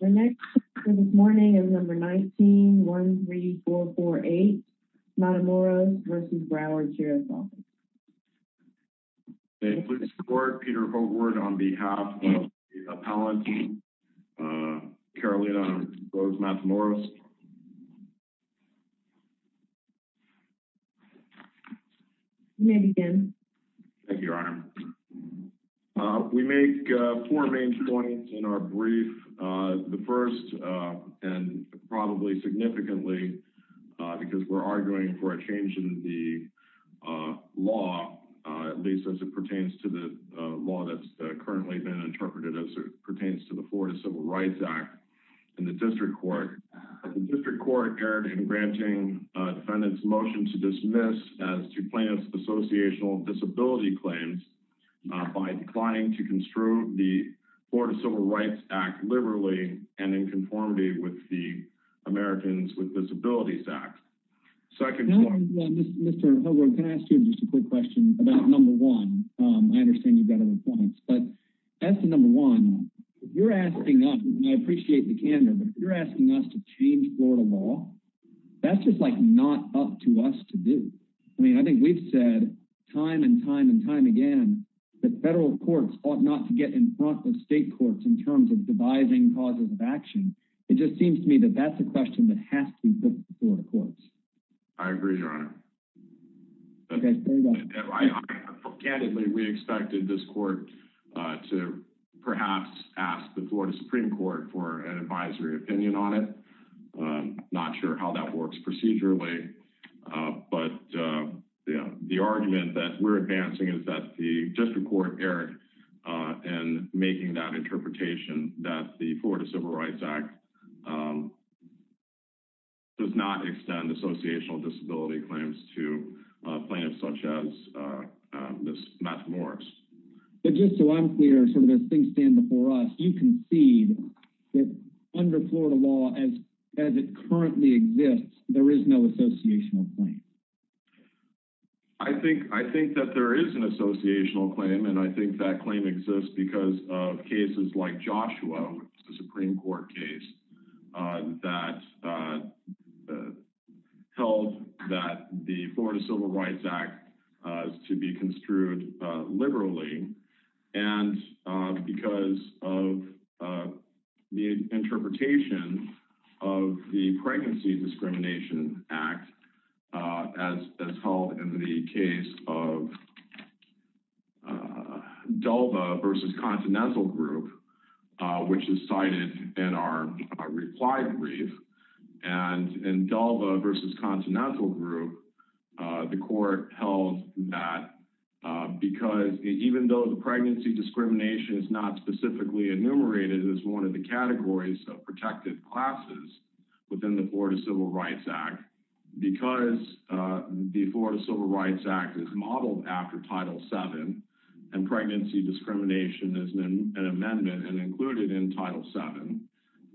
The next for this morning is number 19-13448 Matamoros v. Broward Sheriff's Office. May it please the court, Peter Hogwart on behalf of the appellant, Carolina Rose Matamoros. You may begin. Thank you, Your Honor. We make four main points in our brief the first and probably significantly because we're arguing for a change in the law at least as it pertains to the law that's currently been interpreted as it pertains to the Florida Civil Rights Act in the district court. The district court erred in granting defendant's motion to dismiss as to plaintiff's associational disability claims by declining to construe the Florida Civil Rights Act liberally and in conformity with the Americans with Disabilities Act. Mr. Hogwart, can I ask you just a quick question about number one? I understand you've got other points but as to number one if you're asking us and I appreciate the candor but if you're asking us to change Florida law that's just like not up to us to do. I mean I think we've said time and time and time again that federal courts ought not to get in front of state courts in terms of devising causes of action. It just seems to me that that's a question that has to be put before the courts. I agree, Your Honor. Candidly, we expected this court to perhaps ask the Florida Supreme Court for an advisory opinion on it. Not sure how that works procedurally but the argument that we're advancing is that the district court erred in making that interpretation that the Florida Civil Rights Act does not extend associational disability claims to plaintiffs such as Ms. Matthew Morris. But just so I'm clear, sort of as things stand before us, you concede that under Florida law as it currently exists there is no associational claim. I think that there is an associational claim and I think that claim exists because of cases like Joshua, a Supreme Court case that held that the Florida Civil Rights Act is to be construed liberally and because of the interpretation of the Pregnancy Discrimination Act as held in the case of Dulva v. Continental Group, which is cited in our reply brief. And in Dulva v. Continental Group, the court held that because even though the pregnancy discrimination is not specifically enumerated as one of the categories of protected classes within the Florida Civil Rights Act, because the Florida Civil Rights Act is modeled after Title VII and pregnancy discrimination is an amendment and included in Title VII,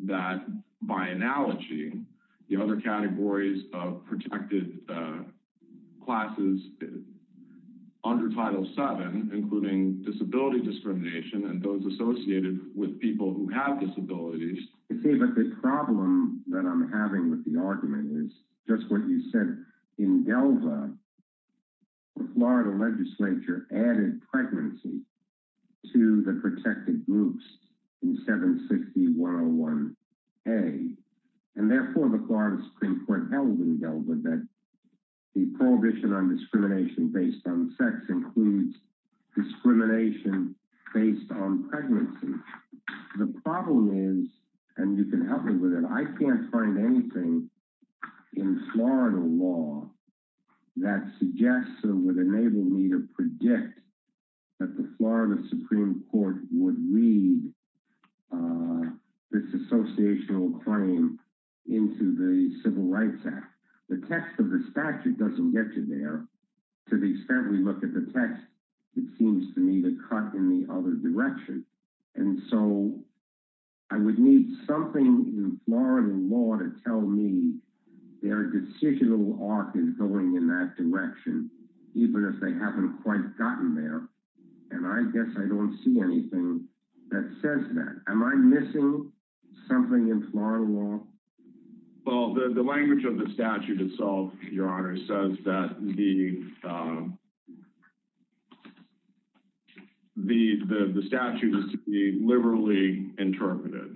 that by analogy the other categories of protected classes under Title VII, including disability discrimination and those associated with people who have disabilities. You see, but the problem that I'm having with the argument is just what you said. In Dulva, the Florida legislature added pregnancy to the protected groups in 760.101a and therefore the Florida Supreme Court held in Dulva that the prohibition on discrimination based on sex includes discrimination based on pregnancy. The problem is, and you can help me with it, I can't find anything in Florida law that suggests or would enable me to predict that the Florida Supreme Court would read this associational claim into the Civil Rights Act. The text of the statute doesn't get you there. To the extent we look at the text, it seems to me to cut in the other direction. And so I would need something in Florida law to tell me their decisional arc is going in that direction, even if they haven't quite gotten there. And I guess I don't see anything that says that. Am I missing something in Florida law? Well, the language of the statute itself, your honor, says that the statute is to be liberally interpreted.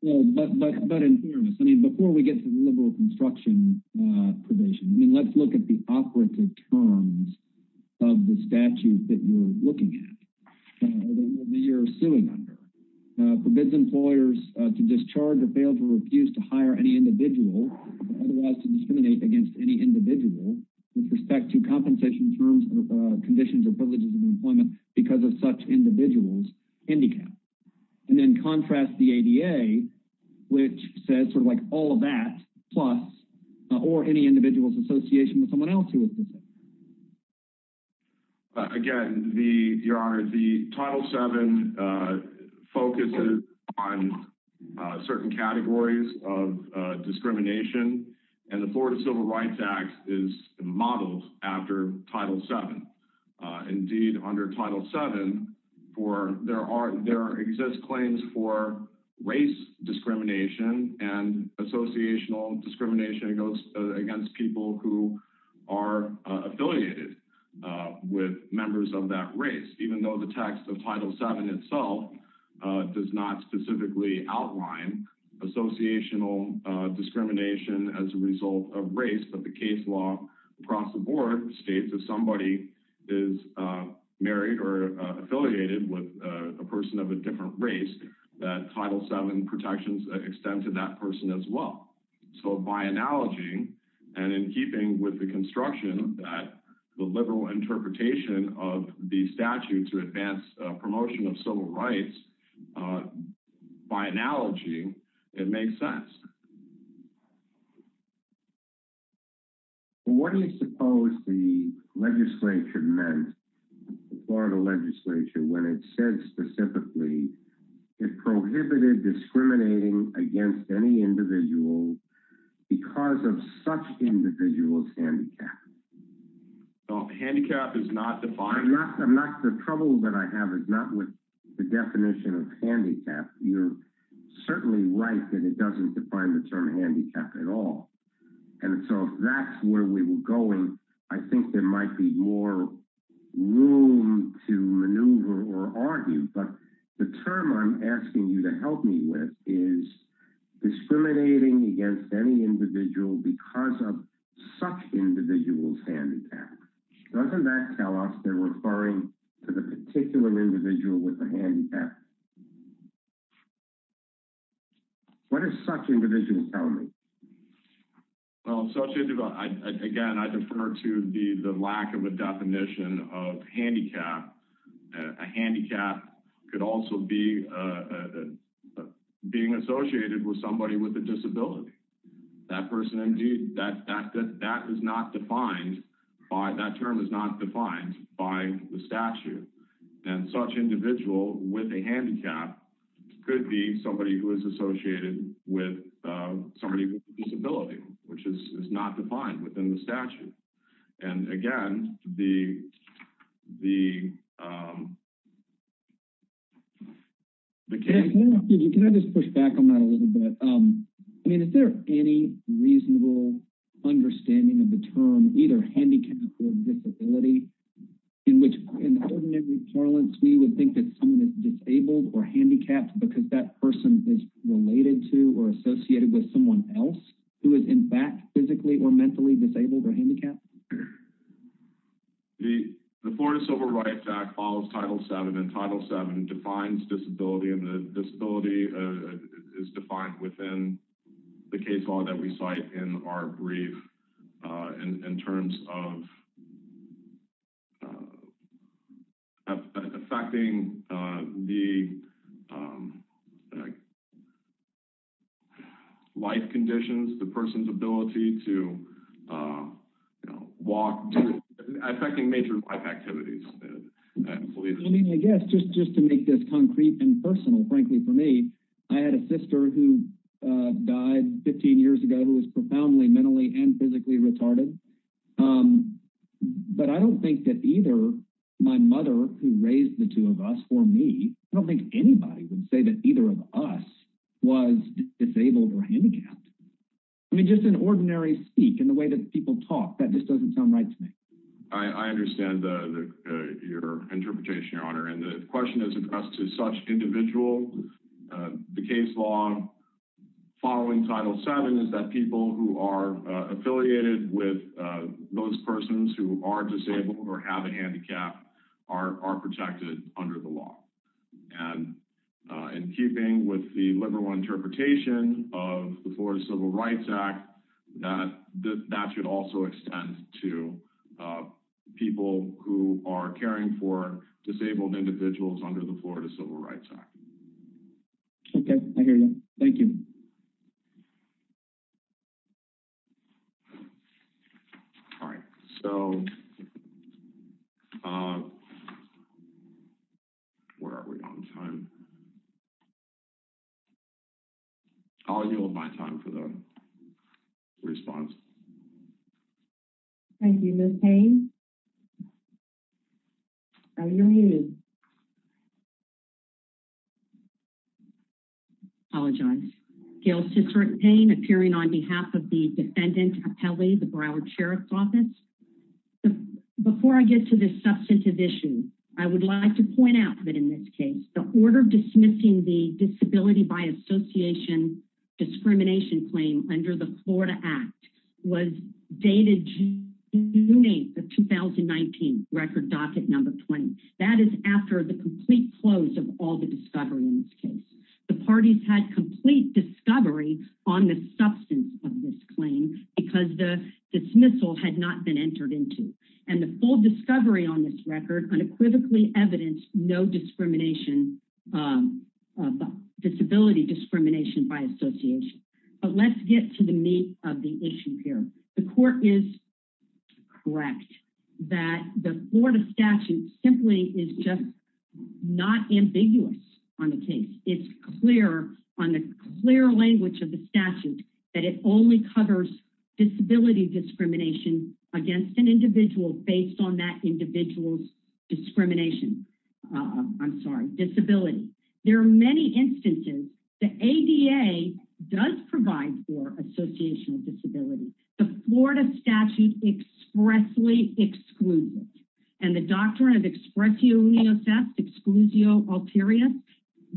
Well, but in fairness, I mean, before we get to the liberal construction provision, I mean, let's look at the operative terms of the statute that you're looking at, that you're suing under. Prohibits employers to discharge or fail to refuse to hire any individual or otherwise to discriminate against any individual with respect to compensation terms or conditions or privileges of employment because of such individual's handicap. And then contrast the ADA, which says sort of like all of that, plus or any individual's association with someone else who is disabled. Again, your honor, the Title VII focuses on certain categories of discrimination, and the Florida Civil Rights Act is modeled after Title VII. Indeed, under Title VII, there are exist claims for race discrimination and associational discrimination against people who are affiliated with members of that race, even though the text of Title VII itself does not specifically outline associational discrimination as a result of race, but the case law across the board states if somebody is married or affiliated with a person of a different race, that Title VII protections extend to that person as well. So by analogy, and in keeping with the construction of that, the liberal interpretation of the statute to advance promotion of civil rights, by analogy, it makes sense. What do you suppose the legislature meant, the Florida legislature, when it said specifically it prohibited discriminating against any individual because of such individual's handicap? Handicap is not defined. The trouble that I have is not with the definition of handicap. You're certainly right that it doesn't define the term handicap at all, and so if that's where we were going, I think there might be more room to maneuver or argue, but the term I'm asking you to help me with is discriminating against any individual because of such individual's handicap. Doesn't that tell us they're referring to the particular individual with the handicap? What does such individual tell me? Well, such individual, again, I defer to the lack of a definition of handicap. A handicap could also be being associated with somebody with a disability. That person, indeed, that is not defined by, that term is not defined by the statute, and such individual with a handicap could be somebody who is associated with somebody with a disability, which is not defined within the statute. And again, the case... Can I just push back on that a little bit? I mean, is there any reasonable understanding of the term either handicap or disability in which, in ordinary parlance, we would think that someone is disabled or handicapped because that person is related to or associated with someone else who is, in fact, physically or mentally disabled or handicapped? The Florida Civil Rights Act follows Title VII, and Title VII defines disability, and the disability is defined within the case law that we cite in our brief in terms of affecting the life conditions, the person's ability to walk, affecting major life activities. I mean, I guess, just to make this concrete and personal, frankly, for me, I had a sister who died 15 years ago who was profoundly mentally and physically retarded, but I don't think that either my mother, who raised the two of us, or me, I don't think anybody would say that either of us was disabled or handicapped. I mean, just in ordinary speak, in the way that people talk, that just doesn't sound right to me. I understand your interpretation, Your Honor, and the question is addressed to such individuals. The case law following Title VII is that people who are are protected under the law, and in keeping with the liberal interpretation of the Florida Civil Rights Act, that that should also extend to people who are caring for disabled individuals under the Florida Civil Rights Act. Okay, I hear you. Thank you. All right, so, where are we on time? I'll yield my time for the response. Thank you, Ms. Payne. I apologize. Gail Ciceric Payne, appearing on behalf of the defendant appellee, the Broward Sheriff's Office. Before I get to this substantive issue, I would like to point out that in this case, the order dismissing the disability by association discrimination claim under the Florida Act was dated June 8th of 2019, record docket number 20. That is after the complete close of all the discovery in this case. The parties had complete discovery on the substance of this claim because the dismissal had not been entered into, and the full discovery on this record unequivocally evidenced no discrimination, disability discrimination by association. But let's get to the meat of the issue here. The court is correct that the Florida statute simply is just not ambiguous on the case. It's clear on the clear language of the statute that it only covers disability discrimination against an individual based on that individual's discrimination. I'm sorry, disability. There are many instances the ADA does provide for associational disability. The Florida statute expressly excludes it, and the doctrine of expressio unios exclusio ulterior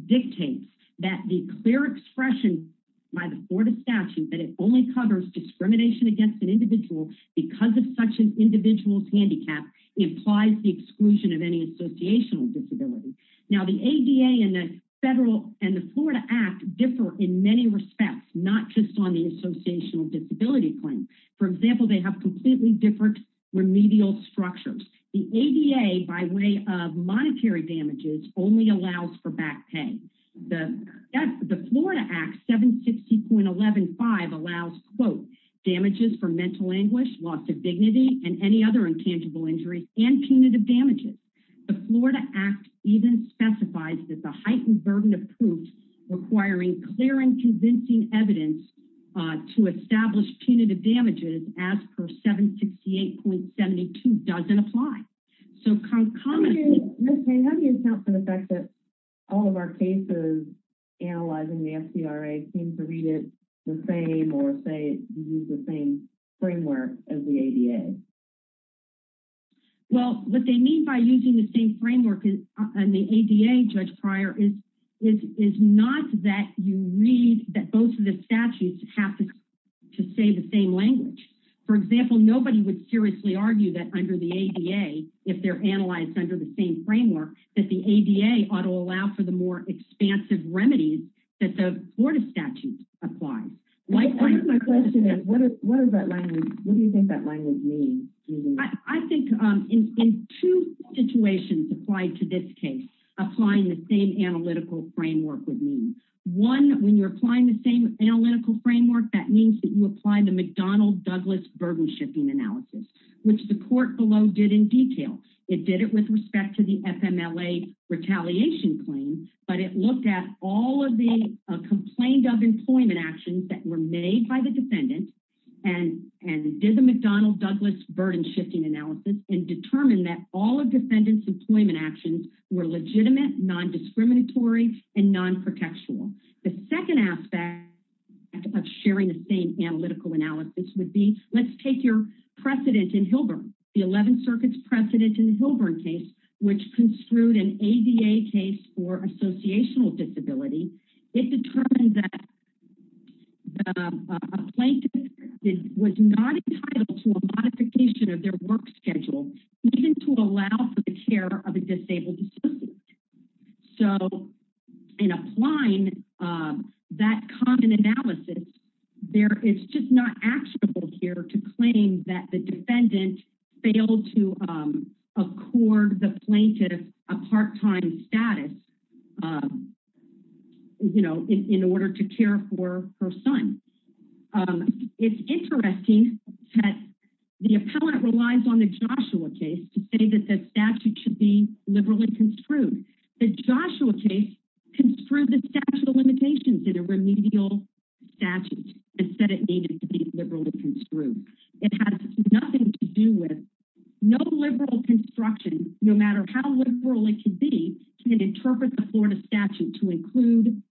dictates that the clear expression by the Florida statute that it only covers discrimination against an individual because of such an individual's handicap implies the exclusion of any associational disability. Now the ADA and the federal and the federal courts in many respects not just on the associational disability claim. For example, they have completely different remedial structures. The ADA by way of monetary damages only allows for back pay. The Florida Act 760.115 allows quote, damages for mental anguish, loss of dignity, and any other intangible injuries and punitive damages. The Florida Act even specifies that the heightened burden of proof requiring clear and convincing evidence to establish punitive damages as per 768.72 doesn't apply. So, how do you account for the fact that all of our cases analyzing the FDRA seem to read it the same or say use the same framework as the ADA? Well, what they mean by using the same framework is not that you read that both of the statutes have to say the same language. For example, nobody would seriously argue that under the ADA, if they're analyzed under the same framework, that the ADA ought to allow for the more expansive remedies that the Florida statutes apply. My question is, what do you think that language means? I think in two situations applied to this case, applying the same analytical framework would mean. One, when you're applying the same analytical framework, that means that you apply the McDonnell-Douglas burden shifting analysis, which the court below did in detail. It did it with respect to the FMLA retaliation claim, but it looked at all of the complaint of employment actions that were made by the defendant and did the McDonnell-Douglas burden shifting analysis and determined that all of defendants employment actions were legitimate, non-discriminatory, and non-protectual. The second aspect of sharing the same analytical analysis would be, let's take your precedent in Hilburn, the 11th Circuit's precedent in the Hilburn case, which construed an ADA case for associational disability. It determined that the plaintiff was not entitled to a modification of their work schedule, even to allow for the care of a child. So in applying that common analysis, it's just not actionable here to claim that the defendant failed to accord the plaintiff a part-time status in order to care for her son. It's interesting that the appellant relies on the Joshua case to say that the statute should be liberally construed. The Joshua case construed the statute of limitations in a remedial statute and said it needed to be liberally construed. It has nothing to do with, no liberal construction, no matter how liberal it can be, can interpret the Florida statute to include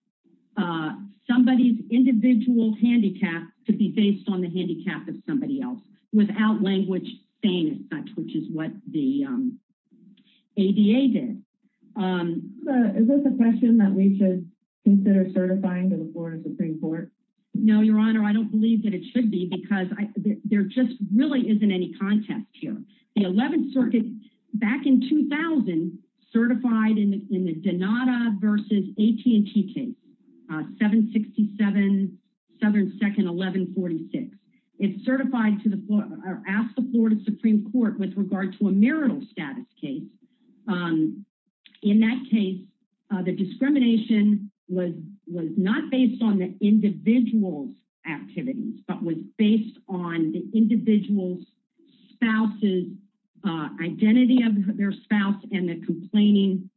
somebody's individual handicap to be based on the handicap of somebody else, without language saying as such, which is what the ADA did. Is this a question that we should consider certifying to the Florida Supreme Court? No, your honor, I don't believe that it should be, because there just really isn't any context here. The 11th Circuit, back in 2000, certified in the Denata versus AT&T case, 767 Southern 2nd 1146. It asked the Florida Supreme Court with regard to a marital status case. In that case, the discrimination was not based on the individual's activities, but was based on the individual's spouse's identity of their spouse and the complaining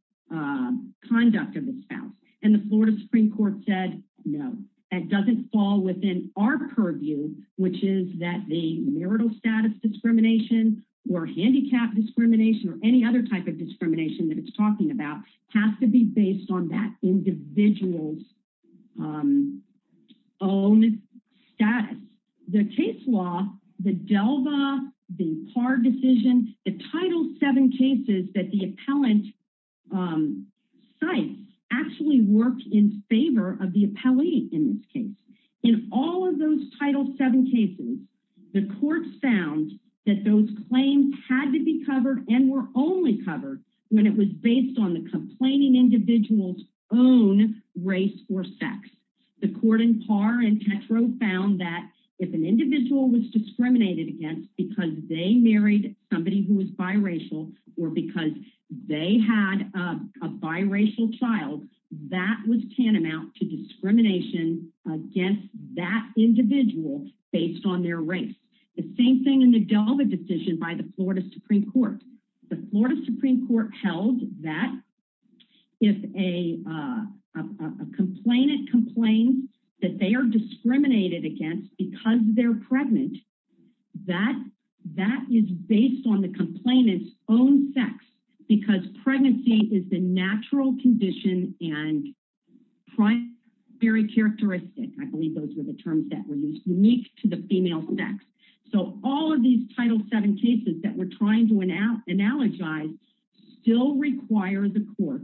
conduct of the spouse, and the Florida Supreme Court said, no, that doesn't fall within our purview which is that the marital status discrimination or handicap discrimination or any other type of discrimination that it's talking about has to be based on that individual's own status. The case law, the DELVA, the PAR decision, the Title VII cases that the appellant cites actually work in favor of the appellee in this case. In all of those Title VII cases, the court found that those claims had to be covered and were only covered when it was based on the complaining individual's own race or sex. The court in PAR and Petro found that if an individual was discriminated against because they married somebody who was biracial or because they had a biracial child, that was tantamount to discrimination against that individual based on their race. The same thing in the DELVA decision by the Florida Supreme Court. The Florida Supreme Court held that if a complainant complains that they are discriminated against because they're pregnant, that is based on the complainant's own sex because pregnancy is the natural condition and primary characteristic. I believe those were the terms that were used, unique to the female sex. So all of these Title VII cases that we're trying to analogize still require the court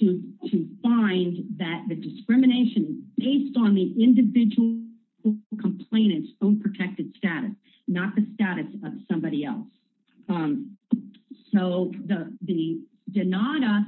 to find that the discrimination based on the individual complainant's own protected status, not the status of somebody else. So the DENATA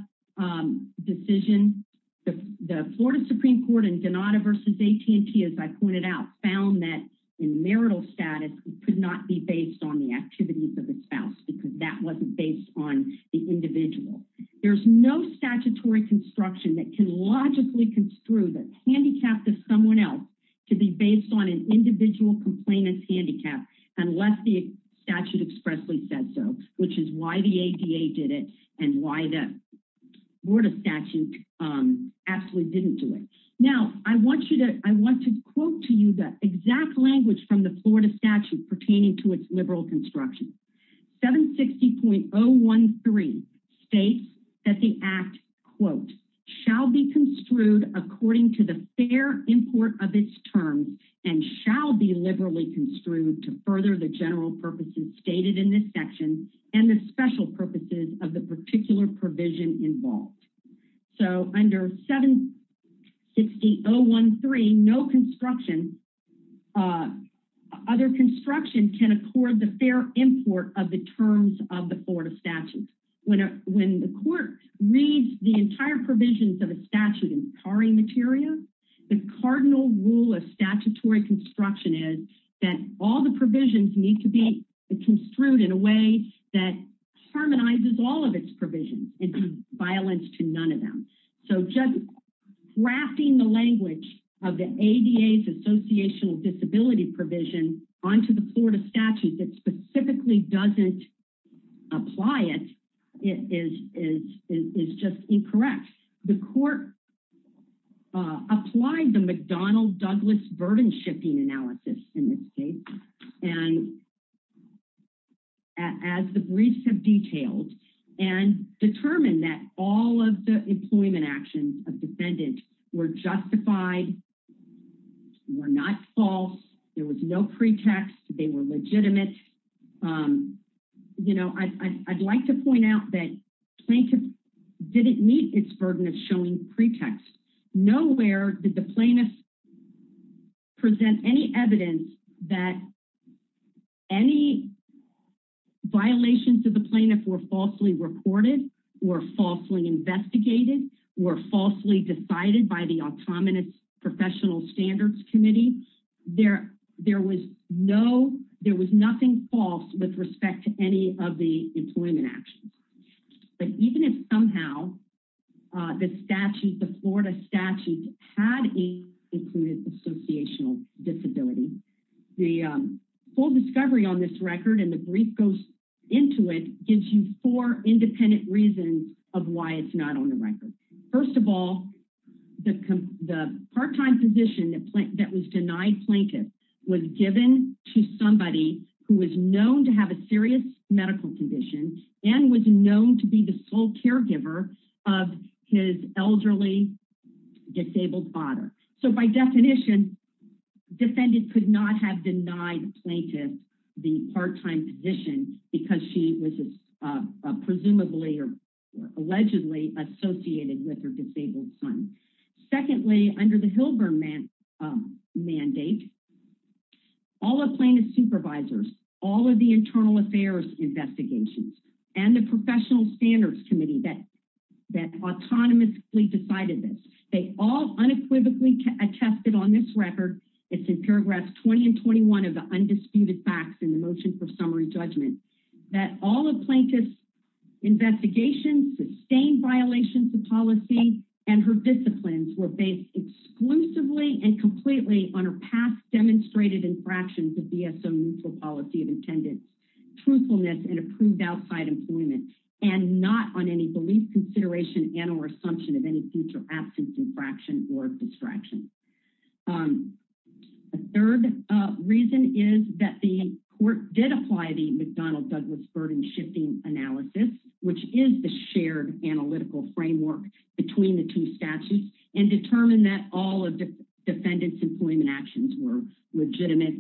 decision, the Florida Supreme Court and DENATA versus AT&T, as I pointed out, found that in marital status it could not be based on the activities of the spouse because that wasn't based on the individual. There's no statutory construction that can logically construe the handicap of someone else to be based on an individual complainant's handicap unless the statute expressly said so, which is why the ADA did it and why the Florida statute absolutely didn't do it. Now I want to quote to you the exact language from the Florida statute pertaining to its liberal construction. 760.013 states that the act quote shall be construed according to the fair import of its terms and shall be liberally construed to further the general purposes stated in this section and the special purposes of the particular provision involved. So under 760.013 no construction, other construction can accord the fair import of the terms of the Florida statute. When the court reads the entire provisions of a statute in pari materia, the cardinal rule of statutory construction is that all the provisions need to be construed in a way that harmonizes all of its provisions and violates to none of them. So just grafting the language of the ADA's associational disability provision onto the Florida statute that specifically doesn't apply it is just incorrect. The court applied the McDonnell-Douglas burden shifting analysis in this case and as the briefs have detailed and determined that all of the employment actions of defendant were justified, were not false, there was no pretext, they were legitimate. You know I'd like to point out that plaintiff didn't meet its burden of showing pretext. Nowhere did the plaintiff present any evidence that any violations of the plaintiff were falsely reported, were falsely investigated, were falsely decided by the autonomous professional standards committee. There was no, there was nothing false with respect to any of the employment actions. But even if somehow the statute, the Florida statute had included associational disability, the full discovery on this record and the brief goes into it gives you four independent reasons of why it's not on the record. First of all, the part-time position that was denied plaintiff was given to somebody who was known to have a serious medical condition and was known to be the sole caregiver of his elderly disabled father. So by definition, defendant could not have denied plaintiff the part-time position because she was presumably or allegedly associated with her disabled son. Secondly, under the Hilburn mandate, all the plaintiff supervisors, all of the internal affairs investigations and the professional standards committee that that autonomously decided this. They all unequivocally attested on this record, it's in paragraphs 20 and 21 of the undisputed facts in the motion for summary judgment, that all of plaintiff's investigations sustained violations of policy and her disciplines were based exclusively and completely on her past demonstrated infractions of BSO neutral policy of attendance, truthfulness and approved outside employment and not on any belief consideration and or assumption of any future absence infraction or distraction. A third reason is that the shifting analysis, which is the shared analytical framework between the two statutes and determine that all of defendant's employment actions were legitimate,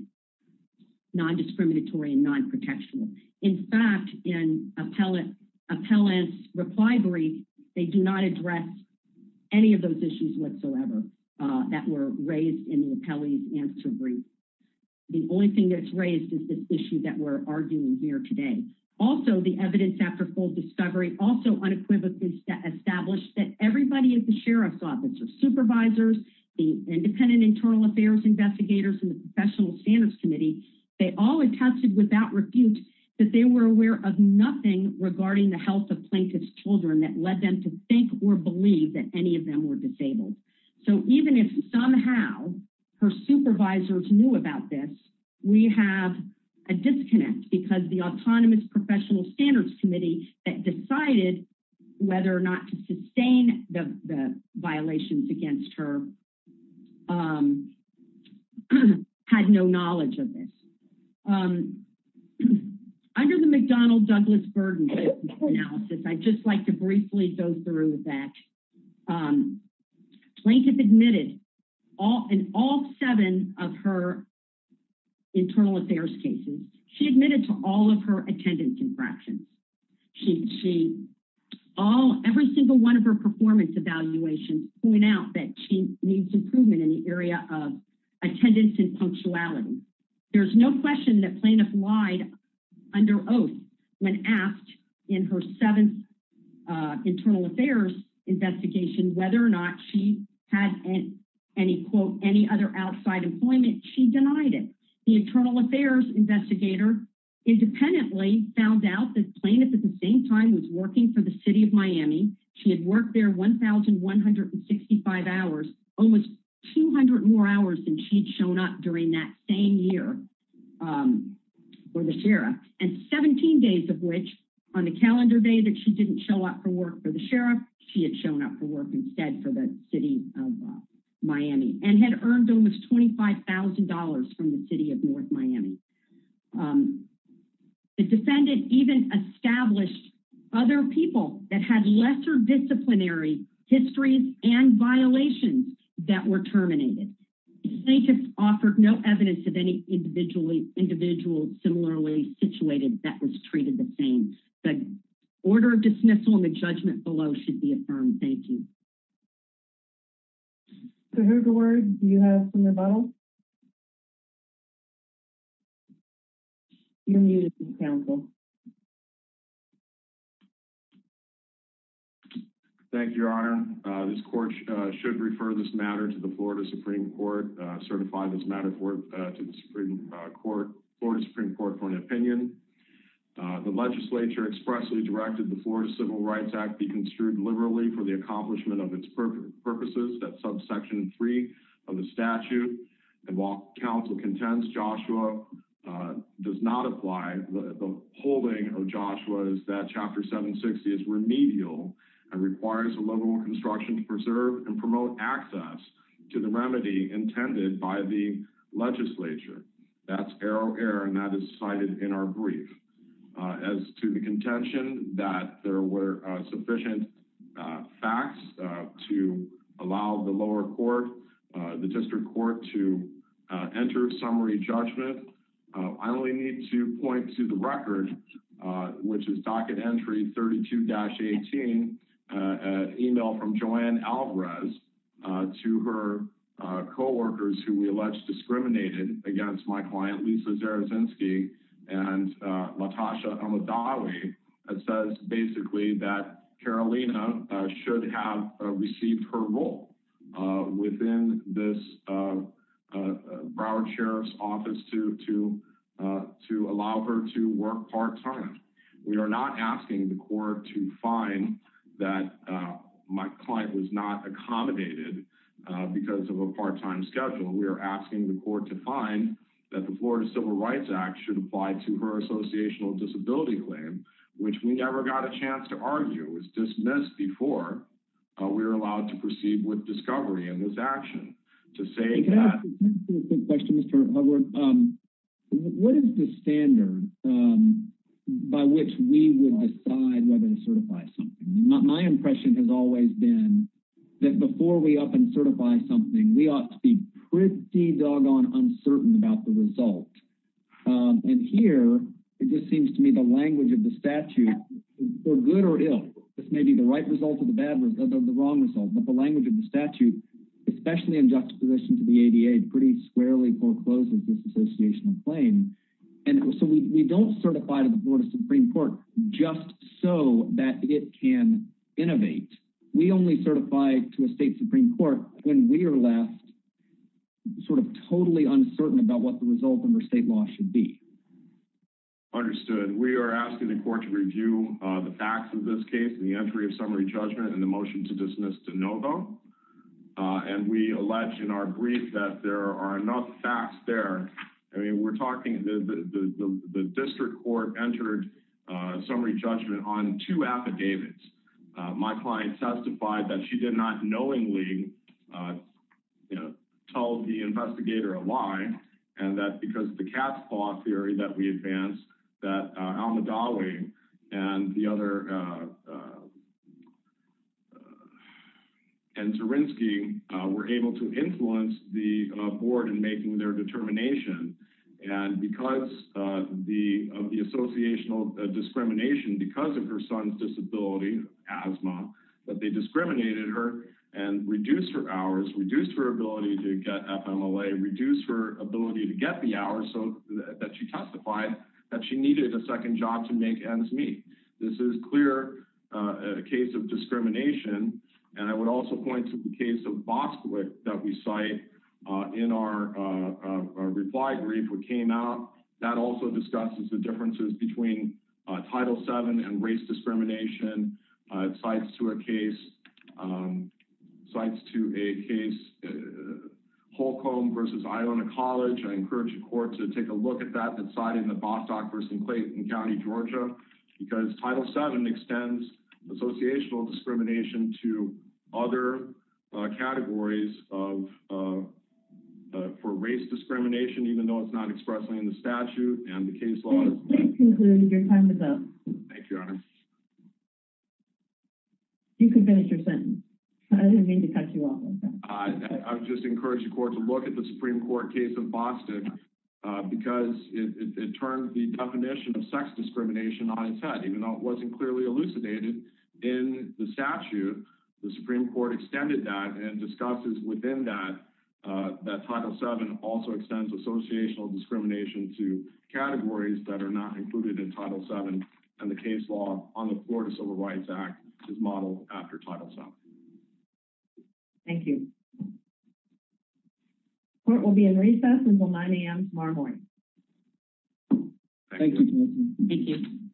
non-discriminatory and non-protectional. In fact, in appellant's reply brief, they do not address any of those issues whatsoever that were raised in the appellee's answer brief. The only thing that's raised is this also the evidence after full discovery also unequivocally established that everybody at the sheriff's office or supervisors, the independent internal affairs investigators and the professional standards committee, they all attested without refute that they were aware of nothing regarding the health of plaintiff's children that led them to think or believe that any of them were disabled. So even if somehow her supervisors knew about this, we have a disconnect because the autonomous professional standards committee that decided whether or not to sustain the violations against her had no knowledge of this. Under the McDonnell Douglas Burden analysis, I'd just like to briefly go through that. Plaintiff admitted in all seven of her internal affairs cases, she admitted to all of her attendance infractions. Every single one of her performance evaluations point out that she needs improvement in the area of attendance and punctuality. There's no question that plaintiff lied under oath when asked in her seventh internal affairs investigation whether or not she had any quote any other outside employment, she denied it. The internal affairs investigator independently found out that plaintiff at the same time was working for the city of Miami. She had worked there 1,165 hours, almost 200 more hours than she'd shown up during that same year for the sheriff and 17 days of which on the calendar day that she didn't show up for work for the sheriff, she had shown up for work instead for the city of Miami and had earned almost $25,000 from the city of North Miami. The defendant even established other people that had lesser disciplinary histories and violations that were terminated. The plaintiff offered no evidence of any individually individual similarly situated that was treated the same. The order of dismissal and the judgment below should be affirmed. Thank you. So who, Gord, do you have some rebuttals? You're muted, counsel. Thank you, your honor. This court should refer this matter to the Florida Supreme Court, certify this matter for to the Supreme Court, Florida Supreme Court for an opinion. The legislature expressly directed the Florida Civil Rights Act be construed liberally for the accomplishment of its purposes at subsection three of the statute and while counsel contends Joshua does not apply, the holding of Joshua is that chapter 760 is remedial and requires a liberal construction to preserve and promote access to the remedy intended by the legislature. That's arrow error and that is cited in our brief. As to the contention that there were sufficient facts to allow the lower court, the district court, to enter summary judgment, I only need to point to the record which is docket entry 32-18, an email from Joanne Alvarez to her co-workers who we allege discriminated against my client Lisa Zarazinsky and Latasha Amidali that says basically that Carolina should have received her role within this Broward Sheriff's Office to to allow her to work part-time. We are not asking the court to find that my client was not accommodated because of a part-time schedule. We are asking the court to find that the Florida Civil Rights Act should apply to her associational disability claim which we never got a chance to argue was dismissed before we were allowed to proceed with discovery in this action. To say that... Can I ask you a quick question Mr. Hubbard? What is the standard by which we will decide whether to certify something? My impression has always been that before we up and certify something we ought to be pretty doggone uncertain about the result and here it just seems to me the language of the statute for good or ill this may be the right result of the bad result of the wrong result but the language of the statute especially in just position to the ADA pretty squarely forecloses this associational claim and so we don't certify to the board of supreme court just so that it can innovate. We only certify to a state supreme court when we are left sort of totally uncertain about what the result under state law should be. Understood. We are asking the court to review the facts of this case in the entry of summary judgment and the motion to dismiss to no vote and we allege in our brief that there are enough facts there. I mean we're talking the district court entered summary judgment on two affidavits. My client testified that she did not knowingly you know tell the investigator a lie and that because the cat's paw theory that we advanced that Al-Madawi and the other and Terinsky were able to influence the board in making their determination and because of the associational discrimination because of her son's disability, asthma, that they discriminated her and reduced her hours, reduced her ability to get FMLA, reduced her ability to get the hours so that she testified that she needed a second job to make ends meet. This is clear a case of discrimination and I would also point to the case of Bostwick that we cite in our reply brief which came out that also discusses the differences between Title VII and race discrimination. It cites to a case Holcomb versus Iowna College. I encourage the court to take a look at that that's cited in the Bostock versus Clayton County, Georgia because Title VII extends associational discrimination to other categories of for race discrimination even though it's not expressly in the statute and the case law. You can finish your sentence. I didn't mean to cut you off. I would just encourage the court to look at the Supreme Court case of Bostock because it turned the definition of sex discrimination on its head even though it wasn't clearly elucidated in the statute. The Supreme Court extended that and discusses within that that Title VII also extends associational discrimination to categories that are not included in Title VII and the case law on the Florida Civil Rights Act is modeled after Title VII. Thank you. Court will be in recess until 9 a.m. tomorrow morning. Thank you.